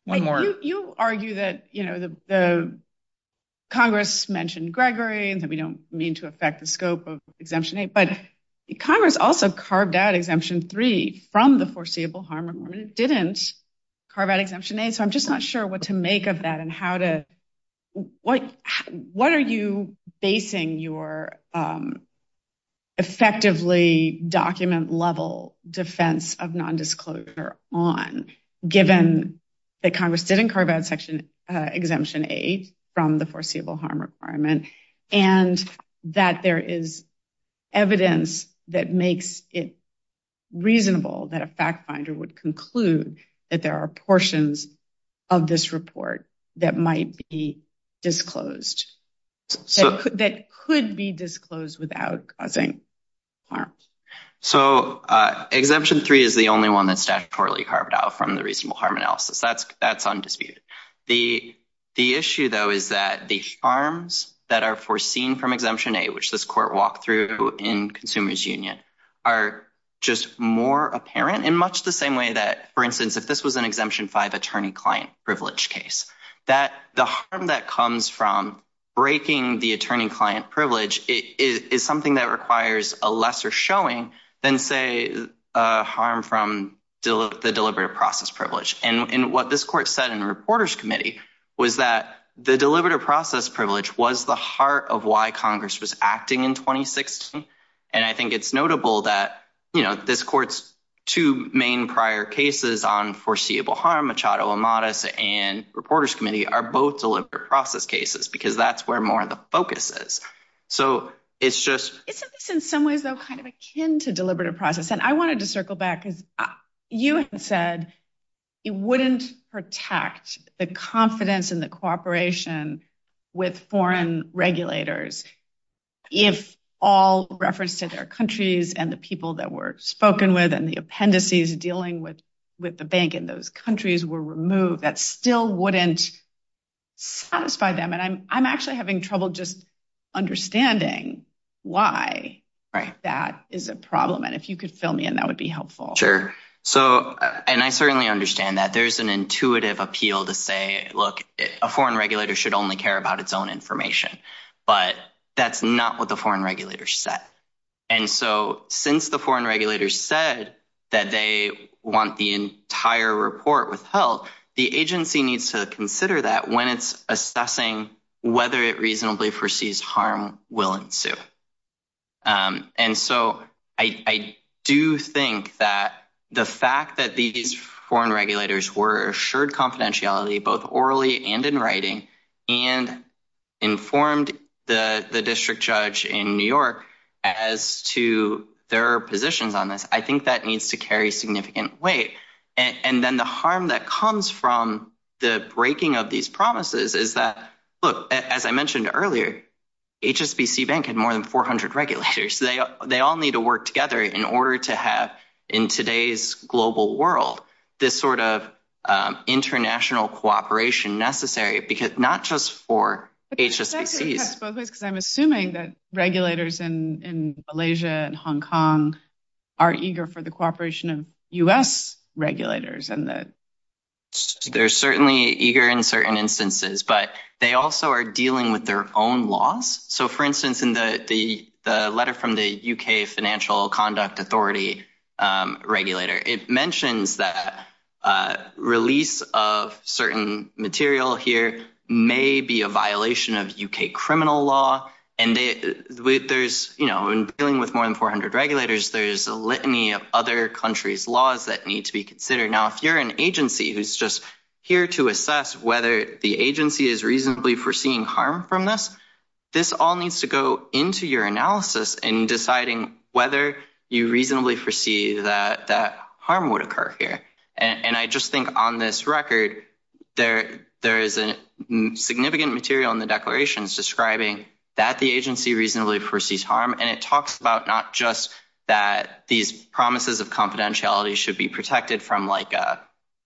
You argue that, you know, the Congress mentioned Gregory and that we don't mean to affect the scope of Exemption 8. But Congress also carved out Exemption 3 from the foreseeable harm requirement, didn't carve out Exemption 8. So I'm just not sure what to make of that and how to what what are you basing your effectively document level defense of nondisclosure on, given that Congress didn't carve out Section Exemption 8 from the foreseeable harm requirement and that there is evidence that makes it reasonable that a fact finder would conclude that there are portions of this report that might be disclosed. So that could be disclosed without causing harm. So Exemption 3 is the only one that's statutorily carved out from the reasonable harm analysis. That's that's undisputed. The issue, though, is that the harms that are foreseen from Exemption 8, which this court walked through in Consumers Union, are just more apparent in much the same way that, for instance, if this was an Exemption 5 attorney-client privilege case, that the harm that comes from breaking the attorney-client privilege is something that requires a lesser showing than, say, a harm from the deliberative process privilege. And what this court said in the Reporters Committee was that the deliberative process privilege was the heart of why Congress was acting in 2016. And I think it's notable that, you know, this court's two main prior cases on foreseeable harm, Machado Amatis and Reporters Committee, are both deliberate process cases because that's where more of the focus is. So it's just in some ways, though, kind of akin to deliberative process. And I wanted to circle back because you had said it wouldn't protect the confidence in the cooperation with foreign regulators if all reference to their countries and the people that were spoken with and the appendices dealing with the bank in those countries were removed. That still wouldn't satisfy them. And I'm actually having trouble just understanding why that is a problem. And if you could fill me in, that would be helpful. Sure. So and I certainly understand that there's an intuitive appeal to say, look, a foreign regulator should only care about its own information. But that's not what the foreign regulators said. And so since the foreign regulators said that they want the entire report withheld, the agency needs to consider that when it's assessing whether it reasonably foresees harm will ensue. And so I do think that the fact that these foreign regulators were assured confidentiality, both orally and in writing, and informed the district judge in New York as to their positions on this, I think that needs to carry significant weight. And then the harm that comes from the breaking of these promises is that, look, as I mentioned earlier, HSBC Bank had more than 400 regulators. They all need to work together in order to have in today's global world this sort of international cooperation necessary, because not just for HSBCs. Because I'm assuming that regulators in Malaysia and Hong Kong are eager for the cooperation of U.S. regulators. They're certainly eager in certain instances, but they also are dealing with their own laws. So, for instance, in the letter from the UK Financial Conduct Authority regulator, it mentions that release of certain material here may be a violation of U.K. criminal law. And there's, you know, in dealing with more than 400 regulators, there is a litany of other countries' laws that need to be considered. Now, if you're an agency who's just here to assess whether the agency is reasonably foreseeing harm from this, this all needs to go into your analysis in deciding whether you reasonably foresee that harm would occur here. And I just think on this record, there is significant material in the declarations describing that the agency reasonably foresees harm. And it talks about not just that these promises of confidentiality should be protected from, like,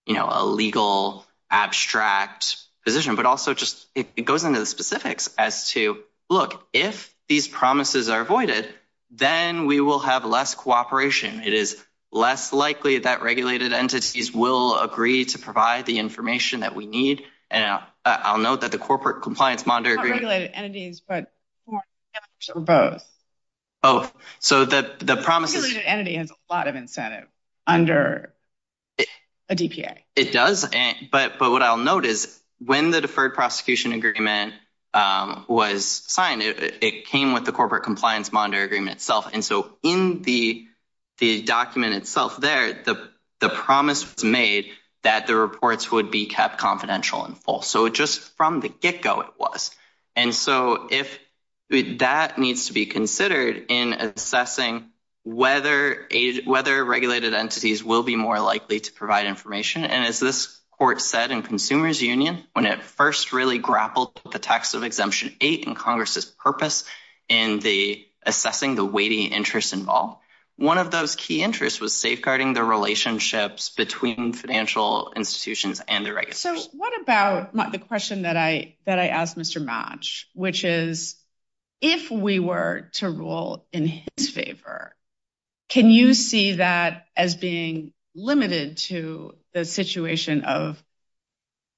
you know, a legal abstract position, but also just it goes into the specifics as to, look, if these promises are avoided, then we will have less cooperation. It is less likely that regulated entities will agree to provide the information that we need. And I'll note that the Corporate Compliance Monitor... Not regulated entities, but both. Oh, so the promises... A regulated entity has a lot of incentive under a DPA. It does, but what I'll note is when the Deferred Prosecution Agreement was signed, it came with the Corporate Compliance Monitor Agreement itself. And so in the document itself there, the promise was made that the reports would be kept confidential and full. So just from the get-go, it was. And so that needs to be considered in assessing whether regulated entities will be more likely to provide information. And as this Court said in Consumers Union, when it first really grappled with the text of Exemption 8 and Congress' purpose in assessing the weighty interests involved, one of those key interests was safeguarding the relationships between financial institutions and the regulators. So what about the question that I asked Mr. Matsch, which is, if we were to rule in his favor, can you see that as being limited to the situation of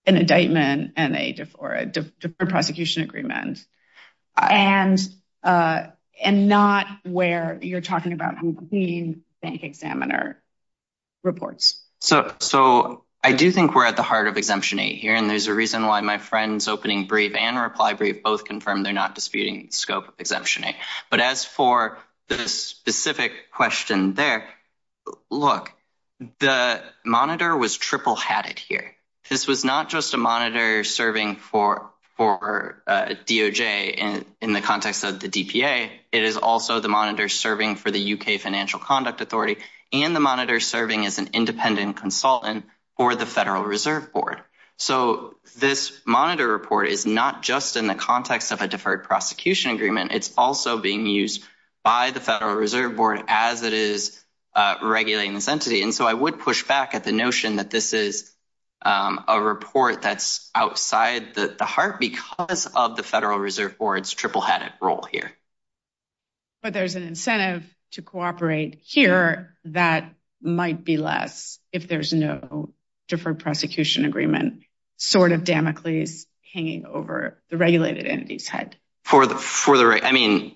an indictment and a Deferred Prosecution Agreement, and not where you're talking about between bank examiner reports? So I do think we're at the heart of Exemption 8 here, and there's a reason why my friends opening brief and reply brief both confirmed they're not disputing the scope of Exemption 8. But as for the specific question there, look, the monitor was triple-hatted here. This was not just a monitor serving for DOJ in the context of the DPA. It is also the monitor serving for the U.K. Financial Conduct Authority, and the monitor serving as an independent consultant for the Federal Reserve Board. So this monitor report is not just in the context of a Deferred Prosecution Agreement. It's also being used by the Federal Reserve Board as it is regulating this entity. And so I would push back at the notion that this is a report that's outside the heart because of the Federal Reserve Board's triple-hatted role here. But there's an incentive to cooperate here that might be less if there's no Deferred Prosecution Agreement sort of Damocles hanging over the regulated entity's head. I mean,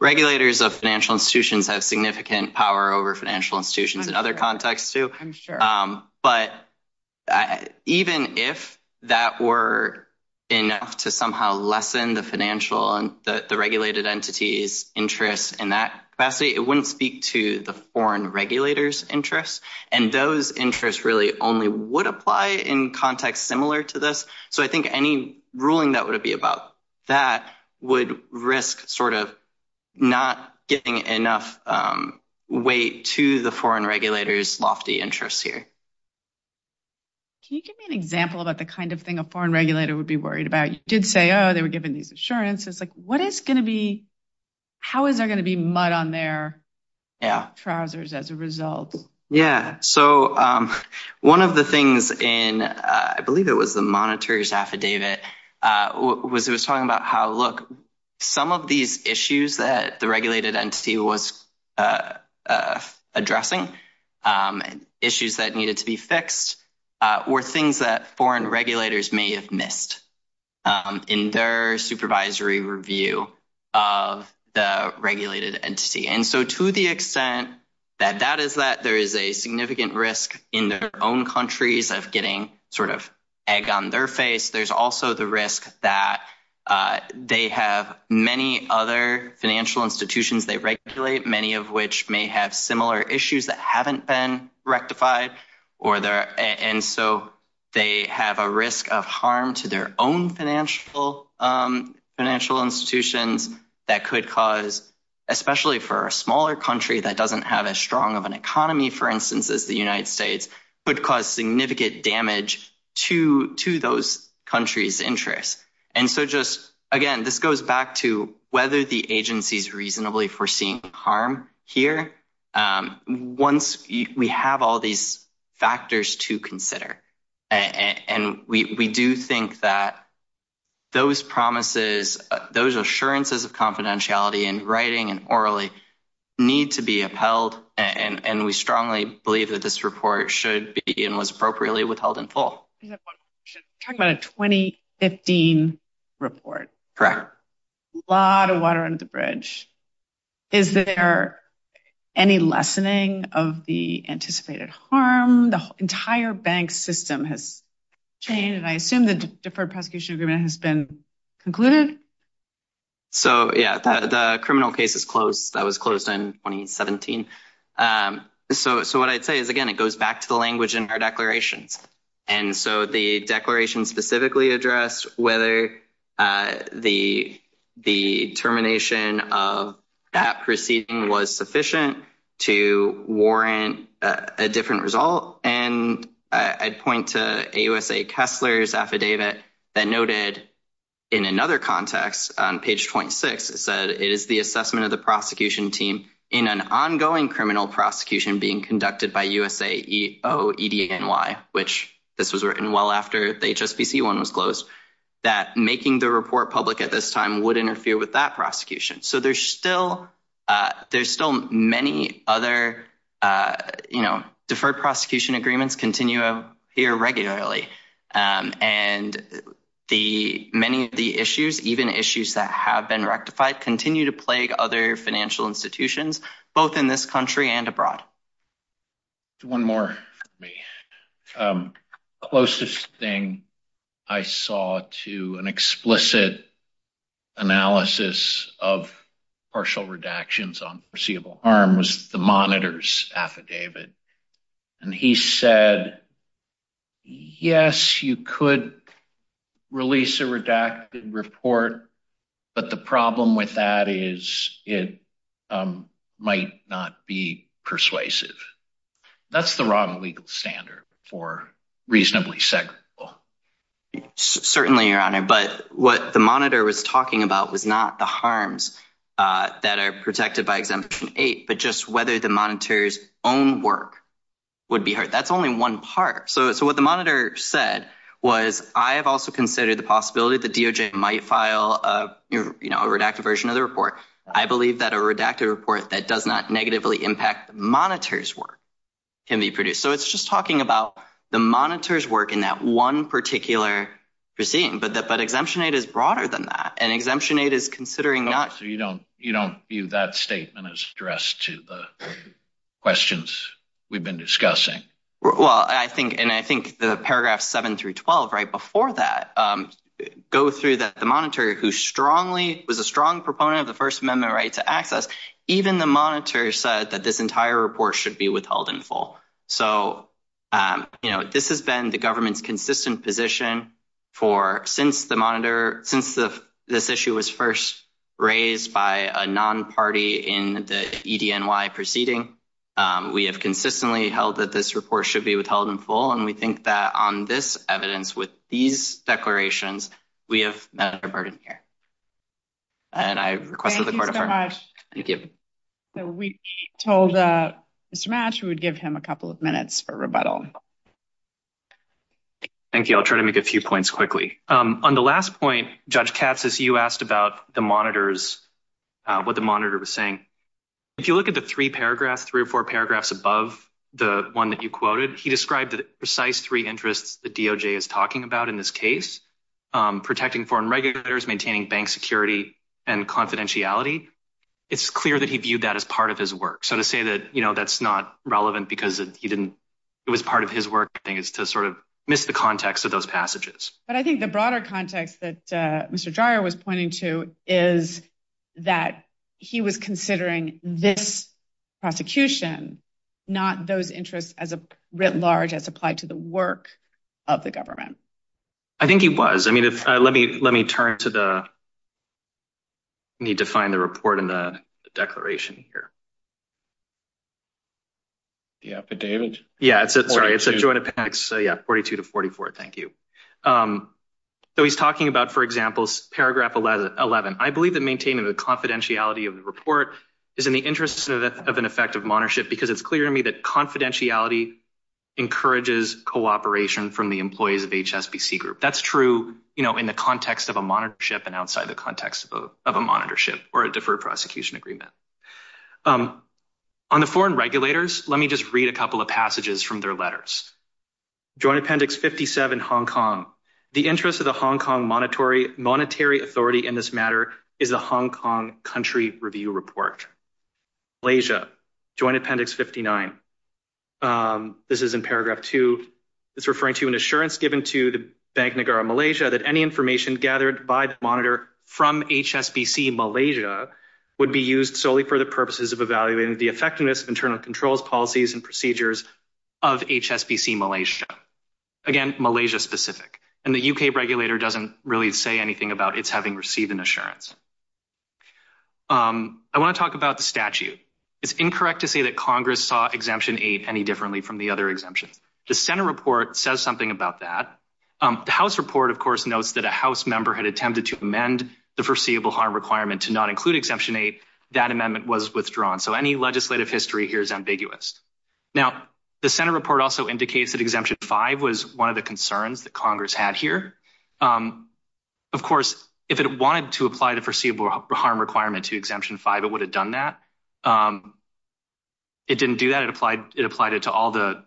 regulators of financial institutions have significant power over financial institutions in other contexts, too. But even if that were enough to somehow lessen the regulated entity's interest in that capacity, it wouldn't speak to the foreign regulators' interests. And those interests really only would apply in contexts similar to this. So I think any ruling that would be about that would risk sort of not getting enough weight to the foreign regulators' lofty interests here. Can you give me an example about the kind of thing a foreign regulator would be worried about? You did say, oh, they were given these assurances. Like, what is going to be, how is there going to be mud on their trousers as a result? Yeah, so one of the things in, I believe it was the monitor's affidavit, was it was talking about how, look, some of these issues that the regulated entity was addressing, issues that needed to be fixed, were things that foreign regulators may have missed in their supervisory review of the regulated entity. And so to the extent that that is that there is a significant risk in their own countries of getting sort of egg on their face, there's also the risk that they have many other financial institutions they regulate, many of which may have similar issues that haven't been rectified. And so they have a risk of harm to their own financial institutions that could cause, especially for a smaller country that doesn't have as strong of an economy, for instance, as the United States, could cause significant damage to those countries' interests. And so just, again, this goes back to whether the agency's reasonably foreseeing harm here once we have all these factors to consider. And we do think that those promises, those assurances of confidentiality in writing and orally need to be upheld, and we strongly believe that this report should be, and was appropriately withheld in full. We're talking about a 2015 report. A lot of water under the bridge. Is there any lessening of the anticipated harm? The entire bank system has changed, and I assume the deferred prosecution agreement has been concluded. So, yeah, the criminal case is closed. That was closed in 2017. So what I'd say is, again, it goes back to the language in our declarations. And so the declaration specifically addressed whether the termination of that proceeding was sufficient to warrant a different result. And I'd point to AUSA Kessler's affidavit that noted, in another context, on page 26, it said, it is the assessment of the prosecution team in an ongoing criminal prosecution being conducted by USAEOEDNY, which this was written well after the HSBC one was closed, that making the report public at this time would interfere with that prosecution. So there's still many other deferred prosecution agreements continue here regularly. And many of the issues, even issues that have been rectified, continue to plague other financial institutions, both in this country and abroad. One more for me. The closest thing I saw to an explicit analysis of partial redactions on foreseeable harm was the monitors affidavit. And he said, yes, you could release a redacted report, but the problem with that is it might not be persuasive. That's the wrong legal standard for reasonably secondable. Certainly, Your Honor. But what the monitor was talking about was not the harms that are protected by exemption 8, but just whether the monitor's own work would be hurt. That's only one part. So what the monitor said was, I have also considered the possibility that DOJ might file a redacted version of the report. I believe that a redacted report that does not negatively impact the monitor's work can be produced. So it's just talking about the monitor's work in that one particular proceeding. But exemption 8 is broader than that. And exemption 8 is considering not… to the questions we've been discussing. Well, I think, and I think the paragraphs 7 through 12 right before that go through the monitor, who strongly was a strong proponent of the First Amendment right to access. Even the monitor said that this entire report should be withheld in full. So, you know, this has been the government's consistent position for… Since this issue was first raised by a non-party in the EDNY proceeding, we have consistently held that this report should be withheld in full. And we think that on this evidence, with these declarations, we have met our burden here. And I request that the court… Thank you so much. Thank you. So we told Mr. Matsch, we would give him a couple of minutes for rebuttal. Thank you. I'll try to make a few points quickly. On the last point, Judge Katsas, you asked about the monitors, what the monitor was saying. If you look at the three paragraphs, three or four paragraphs above the one that you quoted, he described the precise three interests the DOJ is talking about in this case, protecting foreign regulators, maintaining bank security, and confidentiality. It's clear that he viewed that as part of his work. So to say that, you know, that's not relevant because he didn't… It was part of his work, I think, is to sort of miss the context of those passages. But I think the broader context that Mr. Dreyer was pointing to is that he was considering this prosecution, not those interests as a writ large as applied to the work of the government. I think he was. I mean, let me turn to the… I need to find the report in the declaration here. The affidavit? Yeah, it's a joint appendix, so yeah, 42 to 44. Thank you. So he's talking about, for example, paragraph 11. I believe that maintaining the confidentiality of the report is in the interest of an effective monitorship because it's clear to me that confidentiality encourages cooperation from the employees of HSBC Group. That's true, you know, in the context of a monitorship and outside the context of a monitorship or a deferred prosecution agreement. On the foreign regulators, let me just read a couple of passages from their letters. Joint Appendix 57, Hong Kong. The interest of the Hong Kong monetary authority in this matter is the Hong Kong Country Review Report. Malaysia. Joint Appendix 59. This is in paragraph 2. It's referring to an assurance given to the Bank Negara Malaysia that any information gathered by the monitor from HSBC Malaysia would be used solely for the purposes of evaluating the effectiveness of internal controls, policies, and procedures of HSBC Malaysia. Again, Malaysia specific. And the UK regulator doesn't really say anything about its having received an assurance. I want to talk about the statute. It's incorrect to say that Congress saw Exemption 8 any differently from the other exemptions. The Senate report says something about that. The House report, of course, notes that a House member had attempted to amend the foreseeable harm requirement to not include Exemption 8. That amendment was withdrawn. So any legislative history here is ambiguous. Now, the Senate report also indicates that Exemption 5 was one of the concerns that Congress had here. Of course, if it wanted to apply the foreseeable harm requirement to Exemption 5, it would have done that. It didn't do that. It applied it to all the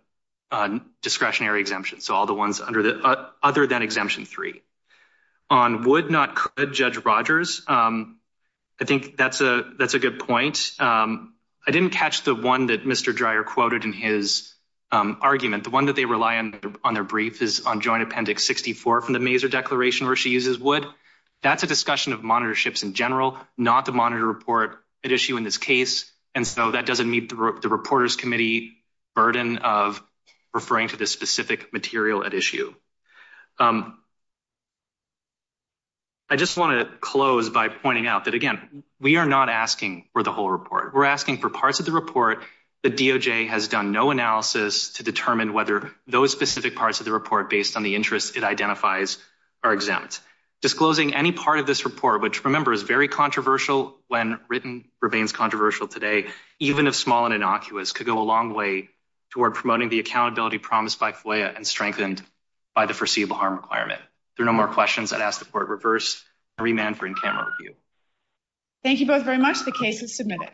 discretionary exemptions, so all the ones other than Exemption 3. On would not could Judge Rogers, I think that's a good point. I didn't catch the one that Mr. Dreyer quoted in his argument. The one that they rely on their brief is on Joint Appendix 64 from the Mazer Declaration where she uses would. That's a discussion of monitorships in general, not the monitor report at issue in this case. And so that doesn't meet the Reporters Committee burden of referring to this specific material at issue. I just want to close by pointing out that, again, we are not asking for the whole report. We're asking for parts of the report. The DOJ has done no analysis to determine whether those specific parts of the report based on the interest it identifies are exempt. Disclosing any part of this report, which, remember, is very controversial when written remains controversial today, even if small and innocuous could go a long way toward promoting the accountability promised by FOIA and strengthened by the foreseeable harm requirement. If there are no more questions, I'd ask the Court reverse and remand for in-camera review. Thank you both very much. The case is submitted.